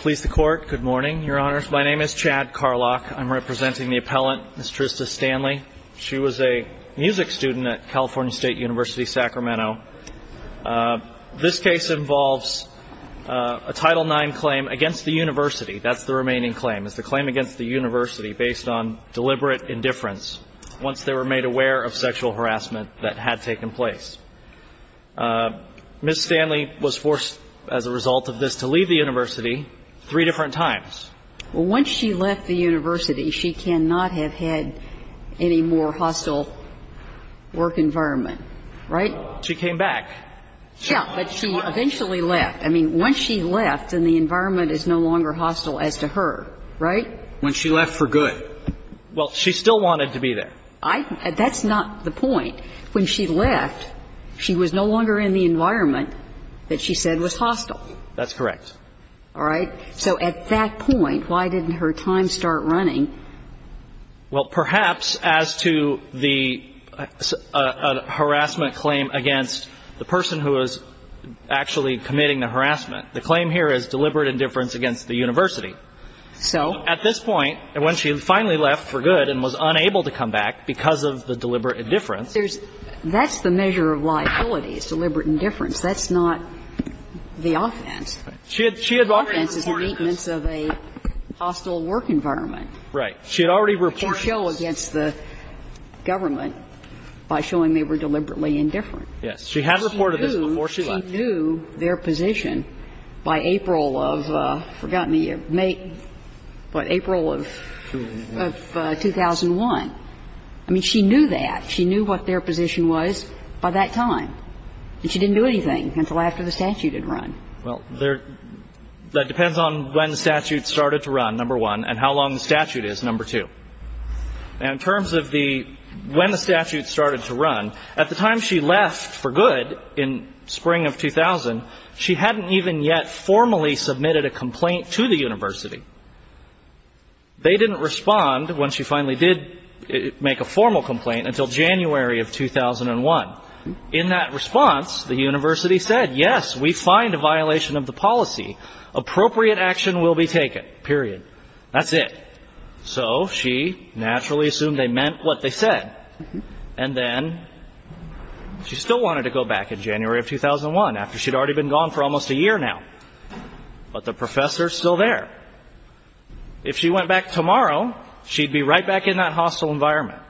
Please the court. Good morning, Your Honor. My name is Chad Carlock. I'm representing the appellant, Ms. Trista Stanley. She was a music student at California State University, Sacramento. This case involves a Title IX claim against the university. That's the remaining claim. It's the claim against the university based on deliberate indifference once they were made aware of sexual harassment that had taken place. Ms. Stanley was forced as a result of this to leave the university three different times. Well, once she left the university, she cannot have had any more hostile work environment, right? She came back. Yeah, but she eventually left. I mean, once she left, then the environment is no longer hostile as to her, right? When she left for good. Well, she still wanted to be there. That's not the point. When she left, she was no longer in the environment that she said was hostile. That's correct. All right? So at that point, why didn't her time start running? Well, perhaps as to the harassment claim against the person who was actually committing the harassment. The claim here is deliberate indifference against the university. So? At this point, when she finally left for good and was unable to come back because of the deliberate indifference. There's – that's the measure of liability, is deliberate indifference. That's not the offense. She had already reported this. The offense is the maintenance of a hostile work environment. Right. She had already reported this. Which you show against the government by showing they were deliberately indifferent. Yes. She had reported this before she left. But she knew their position by April of – I forgot the year. May – what, April of 2001. I mean, she knew that. She knew what their position was by that time. And she didn't do anything until after the statute had run. Well, there – that depends on when the statute started to run, number one, and how long the statute is, number two. Now, in terms of the – when the statute started to run, at the time she left for good in spring of 2000, she hadn't even yet formally submitted a complaint to the university. They didn't respond when she finally did make a formal complaint until January of 2001. In that response, the university said, yes, we find a violation of the policy. Appropriate action will be taken. Period. That's it. So she naturally assumed they meant what they said. And then she still wanted to go back in January of 2001, after she'd already been gone for almost a year now. But the professor's still there. If she went back tomorrow, she'd be right back in that hostile environment.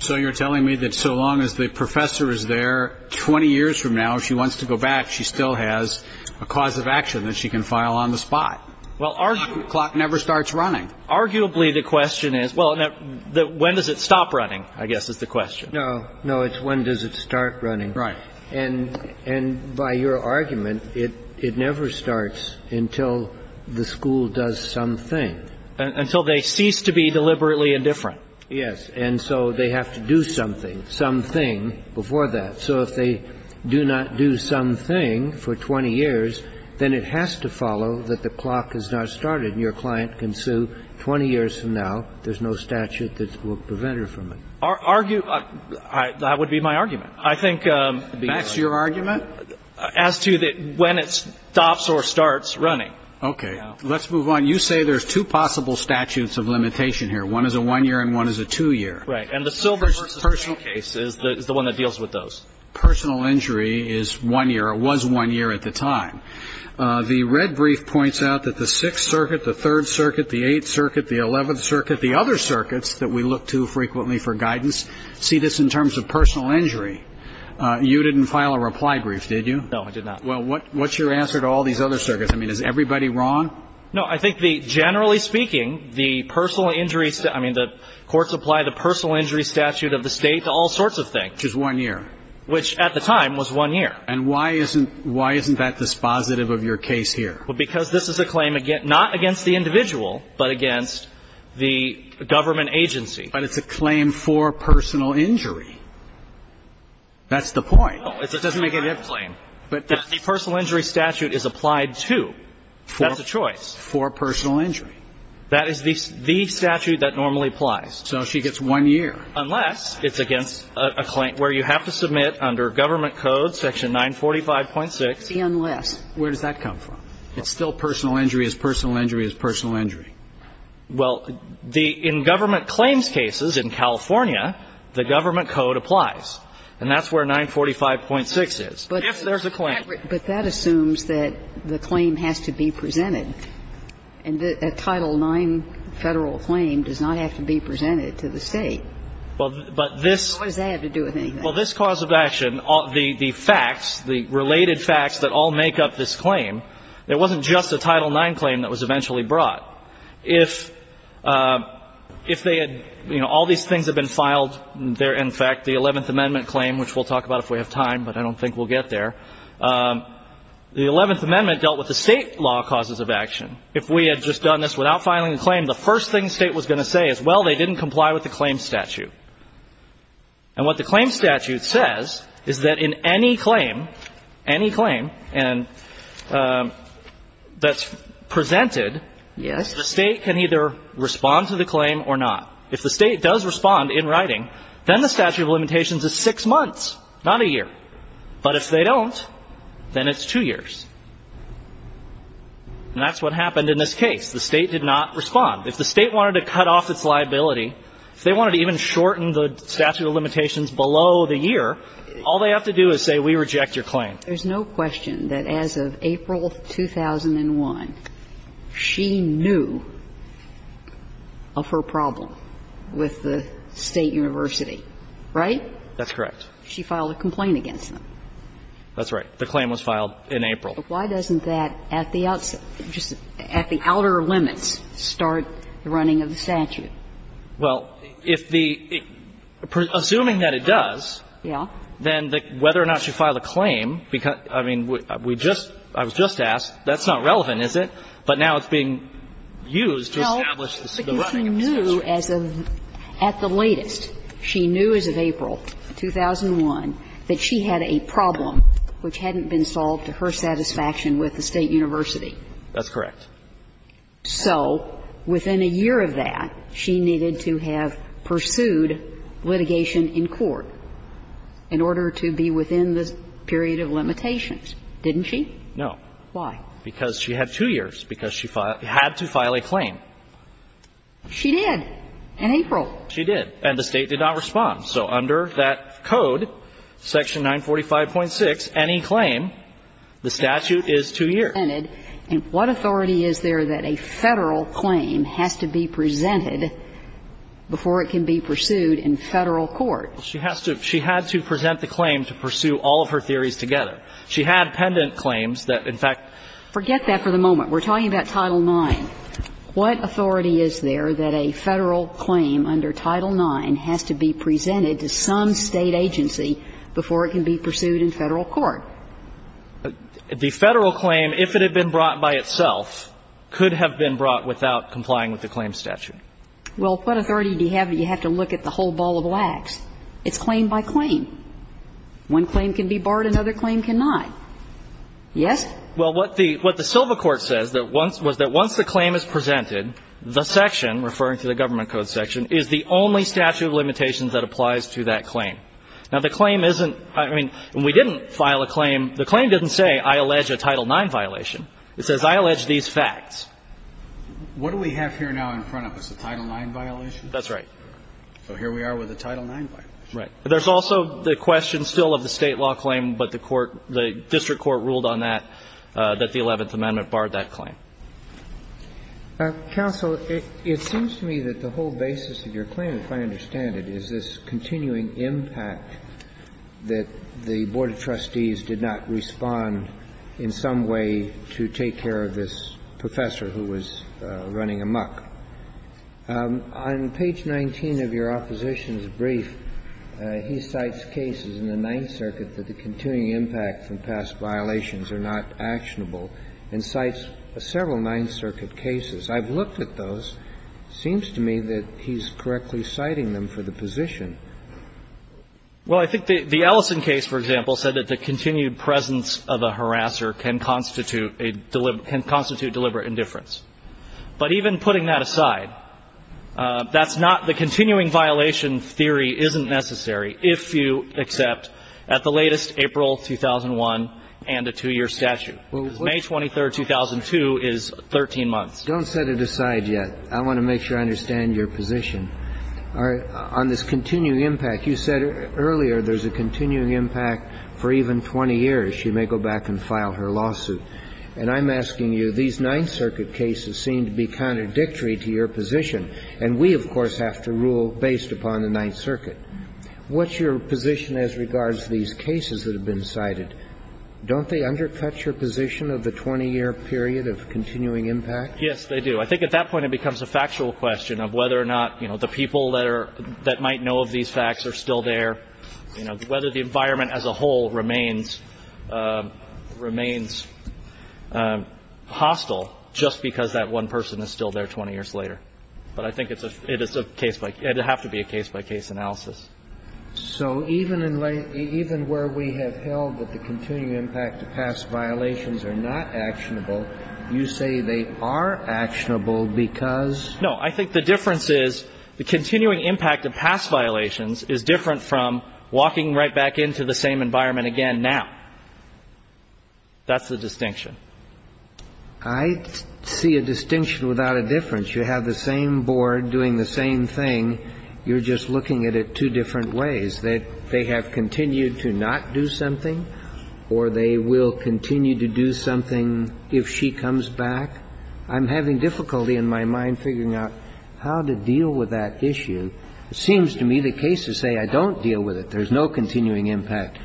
So you're telling me that so long as the professor is there, 20 years from now, if she wants to go back, she still has a cause of action that she can file on the spot. Well, arguably – The clock never starts running. Arguably, the question is – well, when does it stop running, I guess, is the question. No. No, it's when does it start running. Right. And by your argument, it never starts until the school does something. Until they cease to be deliberately indifferent. Yes. And so they have to do something, something before that. So if they do not do something for 20 years, then it has to follow that the clock has not started and your client can sue 20 years from now. There's no statute that will prevent her from it. That would be my argument. I think – That's your argument? As to when it stops or starts running. Okay. Let's move on. You say there's two possible statutes of limitation here. One is a one-year and one is a two-year. Right. And the Silver v. Payne case is the one that deals with those. Personal injury is one year or was one year at the time. The red brief points out that the Sixth Circuit, the Third Circuit, the Eighth Circuit, the Eleventh Circuit, the other circuits that we look to frequently for guidance see this in terms of personal injury. You didn't file a reply brief, did you? No, I did not. Well, what's your answer to all these other circuits? I mean, is everybody wrong? No, I think the – generally speaking, the personal injury – I mean, the courts apply the personal injury statute of the state to all sorts of things. Which is one year. Which at the time was one year. And why isn't – why isn't that dispositive of your case here? Well, because this is a claim not against the individual, but against the government agency. But it's a claim for personal injury. That's the point. No, it doesn't make it a claim. But the personal injury statute is applied to. That's a choice. For personal injury. That is the statute that normally applies. So she gets one year. Unless it's against a claim where you have to submit under government code section 945.6. The unless. Where does that come from? It's still personal injury is personal injury is personal injury. Well, the – in government claims cases in California, the government code applies. And that's where 945.6 is. If there's a claim. But that assumes that the claim has to be presented. And that Title IX Federal claim does not have to be presented to the State. But this. What does that have to do with anything? Well, this cause of action, the facts, the related facts that all make up this claim, it wasn't just a Title IX claim that was eventually brought. If they had, you know, all these things have been filed there. In fact, the Eleventh Amendment claim, which we'll talk about if we have time, but I don't think we'll get there. The Eleventh Amendment dealt with the State law causes of action. If we had just done this without filing a claim, the first thing the State was going to say is, well, they didn't comply with the claim statute. And what the claim statute says is that in any claim, any claim, and that's presented. Yes. The State can either respond to the claim or not. If the State does respond in writing, then the statute of limitations is six months, not a year. But if they don't, then it's two years. And that's what happened in this case. The State did not respond. If the State wanted to cut off its liability, if they wanted to even shorten the statute of limitations below the year, all they have to do is say, we reject your claim. There's no question that as of April 2001, she knew of her problem with the State University. Right? That's correct. She filed a complaint against them. That's right. The claim was filed in April. But why doesn't that, at the outset, just at the outer limits, start the running of the statute? Well, if the – assuming that it does, then whether or not you file a claim, because – I mean, we just – I was just asked, that's not relevant, is it? But now it's being used to establish the running of the statute. But she knew as of – at the latest, she knew as of April 2001 that she had a problem which hadn't been solved to her satisfaction with the State University. That's correct. So within a year of that, she needed to have pursued litigation in court in order to be within the period of limitations, didn't she? No. Why? Because she had two years, because she had to file a claim. She did. In April. She did. And the State did not respond. So under that code, Section 945.6, any claim, the statute is two years. And what authority is there that a Federal claim has to be presented before it can be pursued in Federal court? She has to – she had to present the claim to pursue all of her theories together. She had pendant claims that, in fact – Forget that for the moment. We're talking about Title IX. What authority is there that a Federal claim under Title IX has to be presented to some State agency before it can be pursued in Federal court? The Federal claim, if it had been brought by itself, could have been brought without complying with the claim statute. Well, what authority do you have that you have to look at the whole ball of wax? It's claim by claim. One claim can be barred. Another claim cannot. Yes? Well, what the – what the Silva court says was that once the claim is presented, the section, referring to the Government Code section, is the only statute of limitations that applies to that claim. Now, the claim isn't – I mean, when we didn't file a claim, the claim didn't say I allege a Title IX violation. It says I allege these facts. What do we have here now in front of us, a Title IX violation? That's right. So here we are with a Title IX violation. Right. There's also the question still of the State law claim, but the court – the district court ruled on that, that the Eleventh Amendment barred that claim. Counsel, it seems to me that the whole basis of your claim, if I understand it, is this continuing impact that the Board of Trustees did not respond in some way to take care of this professor who was running amok. On page 19 of your opposition's brief, he cites cases in the Ninth Circuit that the continuing impact from past violations are not actionable and cites several Ninth Circuit cases. I've looked at those. It seems to me that he's correctly citing them for the position. Well, I think the Ellison case, for example, said that the continued presence of a harasser can constitute a – can constitute deliberate indifference. But even putting that aside, that's not – the continuing violation theory isn't necessary if you accept at the latest April 2001 and a two-year statute. May 23, 2002 is 13 months. Don't set it aside yet. I want to make sure I understand your position. On this continuing impact, you said earlier there's a continuing impact for even 20 years. She may go back and file her lawsuit. And I'm asking you, these Ninth Circuit cases seem to be contradictory to your position, and we, of course, have to rule based upon the Ninth Circuit. What's your position as regards to these cases that have been cited? Don't they undercut your position of the 20-year period of continuing impact? Yes, they do. I think at that point it becomes a factual question of whether or not, you know, the people that are – that might know of these facts are still there, you know, whether the environment as a whole remains – remains hostile just because that one person is still there 20 years later. But I think it's a – it is a case by – it would have to be a case-by-case analysis. So even in – even where we have held that the continuing impact of past violations are not actionable, you say they are actionable because? No. I think the difference is the continuing impact of past violations is different from walking right back into the same environment again now. That's the distinction. I see a distinction without a difference. You have the same board doing the same thing. You're just looking at it two different ways. They have continued to not do something or they will continue to do something if she comes back. I'm having difficulty in my mind figuring out how to deal with that issue. It seems to me the cases say I don't deal with it. There's no continuing impact.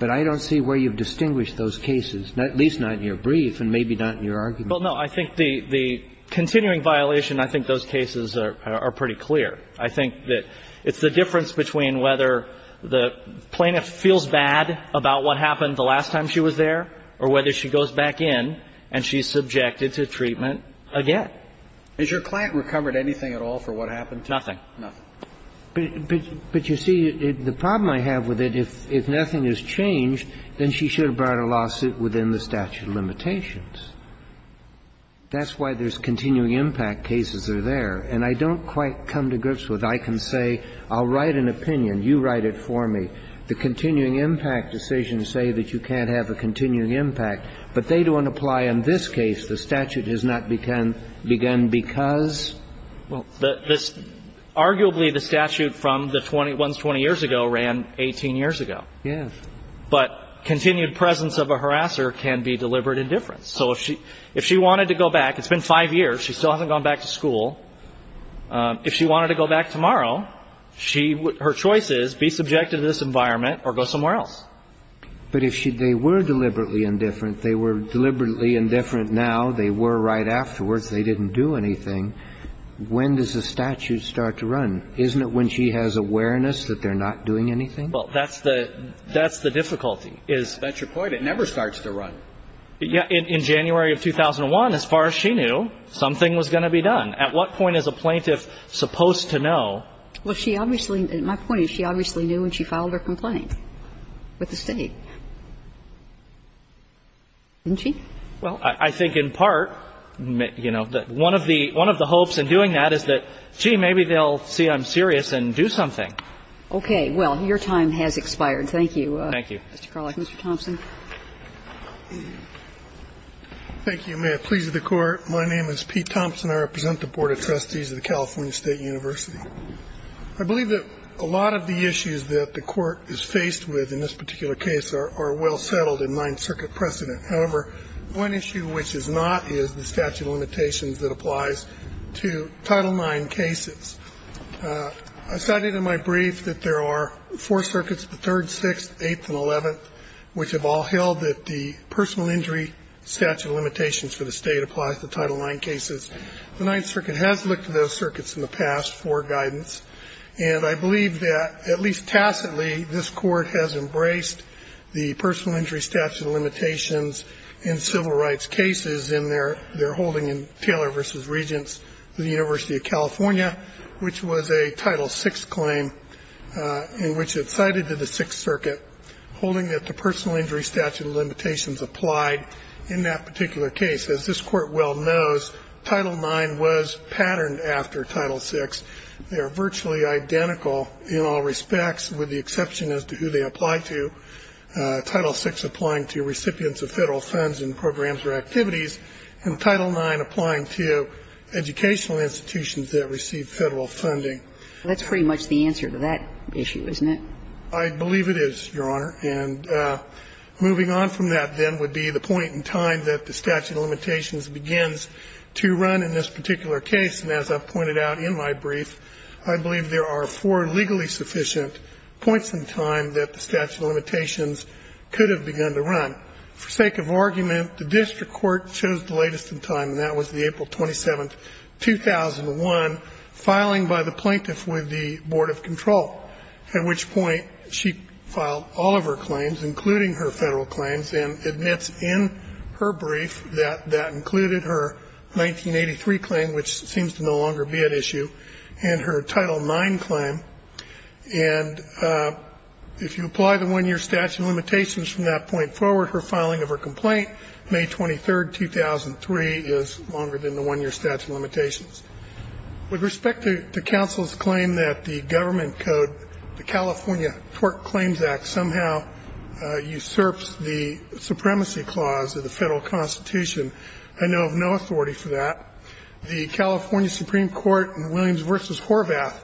But I don't see where you've distinguished those cases, at least not in your brief and maybe not in your argument. Well, no. I think the continuing violation, I think those cases are pretty clear. I think that it's the difference between whether the plaintiff feels bad about what happened the last time she was there or whether she goes back in and she's subjected to treatment again. Has your client recovered anything at all for what happened? Nothing. Nothing. But you see, the problem I have with it, if nothing has changed, then she should have brought a lawsuit within the statute of limitations. That's why there's continuing impact cases that are there. And I don't quite come to grips with. I can say I'll write an opinion. You write it for me. The continuing impact decisions say that you can't have a continuing impact. But they don't apply in this case. The statute has not begun because? Well, this arguably the statute from the ones 20 years ago ran 18 years ago. Yes. But continued presence of a harasser can be deliberate indifference. So if she wanted to go back, it's been five years, she still hasn't gone back to school. If she wanted to go back tomorrow, her choice is be subjected to this environment or go somewhere else. But if they were deliberately indifferent, they were deliberately indifferent now, they were right afterwards, they didn't do anything, when does the statute start to run? Isn't it when she has awareness that they're not doing anything? Well, that's the difficulty is. That's your point. It never starts to run. Yeah. In January of 2001, as far as she knew, something was going to be done. At what point is a plaintiff supposed to know? Well, she obviously, my point is she obviously knew when she filed her complaint with the State. Didn't she? Well, I think in part, you know, one of the hopes in doing that is that, gee, maybe they'll see I'm serious and do something. Okay. Well, your time has expired. Thank you. Thank you. Mr. Carlock. Mr. Thompson. Thank you. May it please the Court. My name is Pete Thompson. I represent the Board of Trustees of the California State University. I believe that a lot of the issues that the Court is faced with in this particular case are well settled in Ninth Circuit precedent. However, one issue which is not is the statute of limitations that applies to Title IX cases. I cited in my brief that there are four circuits, the Third, Sixth, Eighth, and Eleventh, which have all held that the personal injury statute of limitations for the State applies to Title IX cases. The Ninth Circuit has looked at those circuits in the past for guidance. And I believe that, at least tacitly, this Court has embraced the personal injury statute of limitations in civil rights cases in their holding in Taylor v. Regents of the University of California, which was a Title VI claim in which it cited to the Sixth Circuit holding that the personal injury statute of limitations applied in that particular case. As this Court well knows, Title IX was patterned after Title VI. They are virtually identical in all respects with the exception as to who they apply to, Title VI applying to recipients of federal funds and programs or activities and Title IX applying to educational institutions that receive federal funding. That's pretty much the answer to that issue, isn't it? I believe it is, Your Honor. And moving on from that, then, would be the point in time that the statute of limitations begins to run in this particular case. And as I've pointed out in my brief, I believe there are four legally sufficient For sake of argument, the district court chose the latest in time, and that was the April 27, 2001, filing by the plaintiff with the Board of Control, at which point she filed all of her claims, including her federal claims, and admits in her brief that that included her 1983 claim, which seems to no longer be at issue, and her Title IX claim. And if you apply the one-year statute of limitations from that point forward, her filing of her complaint, May 23, 2003, is longer than the one-year statute of limitations. With respect to counsel's claim that the government code, the California Tort Claims Act, somehow usurps the supremacy clause of the federal Constitution, I know of no authority for that. The California Supreme Court in Williams v. Horvath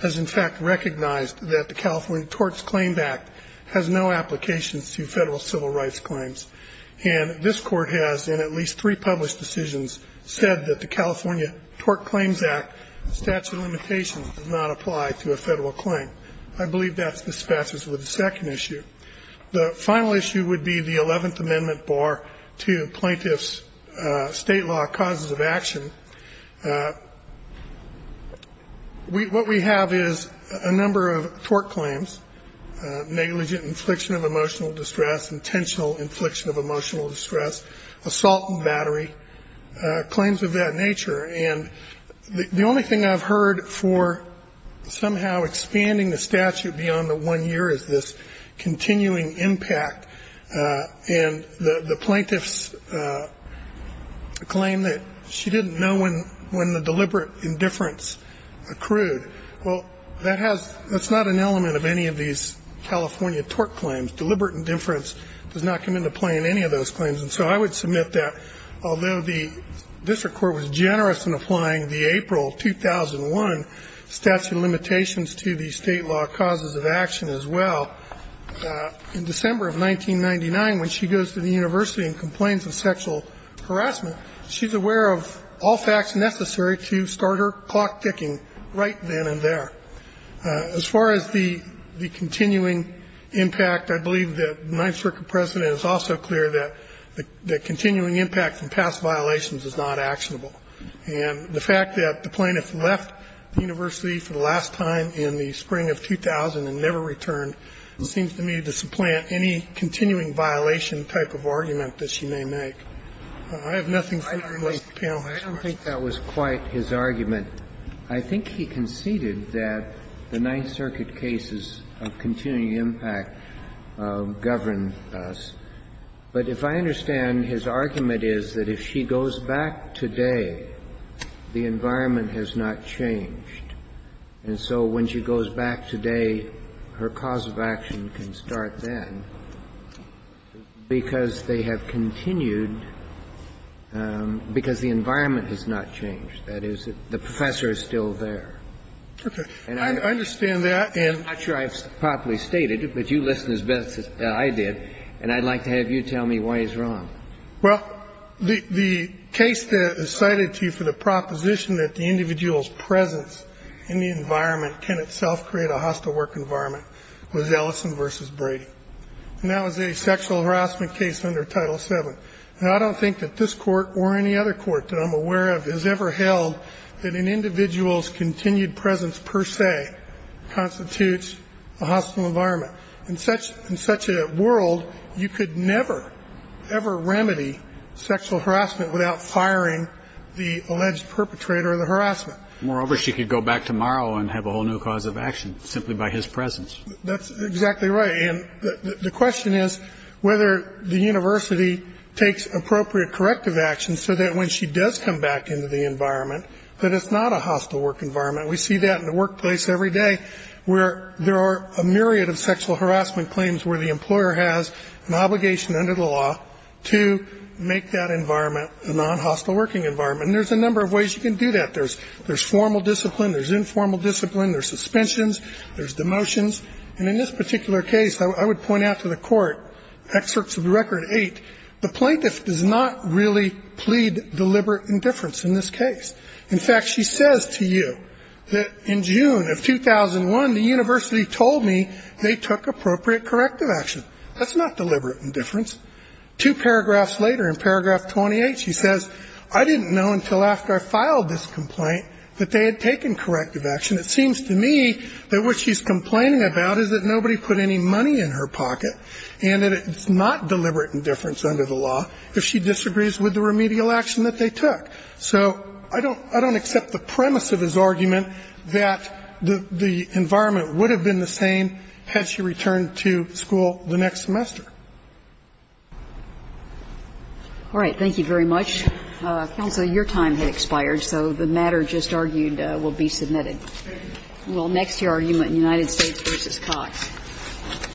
has, in fact, recognized that the California Tort Claims Act has no applications to federal civil rights claims. And this Court has, in at least three published decisions, said that the California Tort Claims Act statute of limitations does not apply to a federal claim. I believe that dispasses with the second issue. The final issue would be the Eleventh Amendment bar to plaintiff's State law causes of action. What we have is a number of tort claims, negligent infliction of emotional distress, intentional infliction of emotional distress, assault and battery, claims of that nature. And the only thing I've heard for somehow expanding the statute beyond the one-year is this continuing impact. And the plaintiff's claim that she didn't know when the deliberate indifference accrued, well, that has not an element of any of these California tort claims. Deliberate indifference does not come into play in any of those claims. And so I would submit that although the district court was generous in applying the April 2001 statute of limitations to the State law causes of action as well, in December of 1999, when she goes to the university and complains of sexual harassment, she's aware of all facts necessary to start her clock ticking right then and there. As far as the continuing impact, I believe that the Ninth Circuit precedent is also clear that the continuing impact in past violations is not actionable. And the fact that the plaintiff left the university for the last time in the spring of 2000 and never returned seems to me to supplant any continuing violation type of argument that she may make. I have nothing further to request the panel to express. I don't think that was quite his argument. I think he conceded that the Ninth Circuit cases of continuing impact govern us. But if I understand, his argument is that if she goes back today, the environment has not changed. And so when she goes back today, her cause of action can start then because they have continued, because the environment has not changed. That is, the professor is still there. And I understand that. And I'm not sure I've properly stated it, but you listened as best as I did. And I'd like to have you tell me why he's wrong. Well, the case that is cited to you for the proposition that the individual's presence in the environment can itself create a hostile work environment was Ellison v. Brady. And that was a sexual harassment case under Title VII. And I don't think that this Court or any other court that I'm aware of has ever held that an individual's continued presence per se constitutes a hostile environment. In such a world, you could never, ever remedy sexual harassment without firing the alleged perpetrator of the harassment. Moreover, she could go back tomorrow and have a whole new cause of action simply by his presence. That's exactly right. And the question is whether the university takes appropriate corrective actions so that when she does come back into the environment, that it's not a hostile work environment. We see that in the workplace every day where there are a myriad of sexual harassment claims where the employer has an obligation under the law to make that environment a non-hostile working environment. And there's a number of ways you can do that. There's formal discipline. There's informal discipline. There's suspensions. There's demotions. And in this particular case, I would point out to the Court, excerpts of Record 8, the plaintiff does not really plead deliberate indifference in this case. In fact, she says to you that in June of 2001, the university told me they took appropriate corrective action. That's not deliberate indifference. Two paragraphs later, in paragraph 28, she says, I didn't know until after I filed this complaint that they had taken corrective action. It seems to me that what she's complaining about is that nobody put any money in her pocket and that it's not deliberate indifference under the law if she disagrees with the remedial action that they took. So I don't accept the premise of his argument that the environment would have been the same had she returned to school the next semester. All right. Thank you very much. Counsel, your time has expired, so the matter just argued will be submitted. We'll next hear argument in United States v. Cox.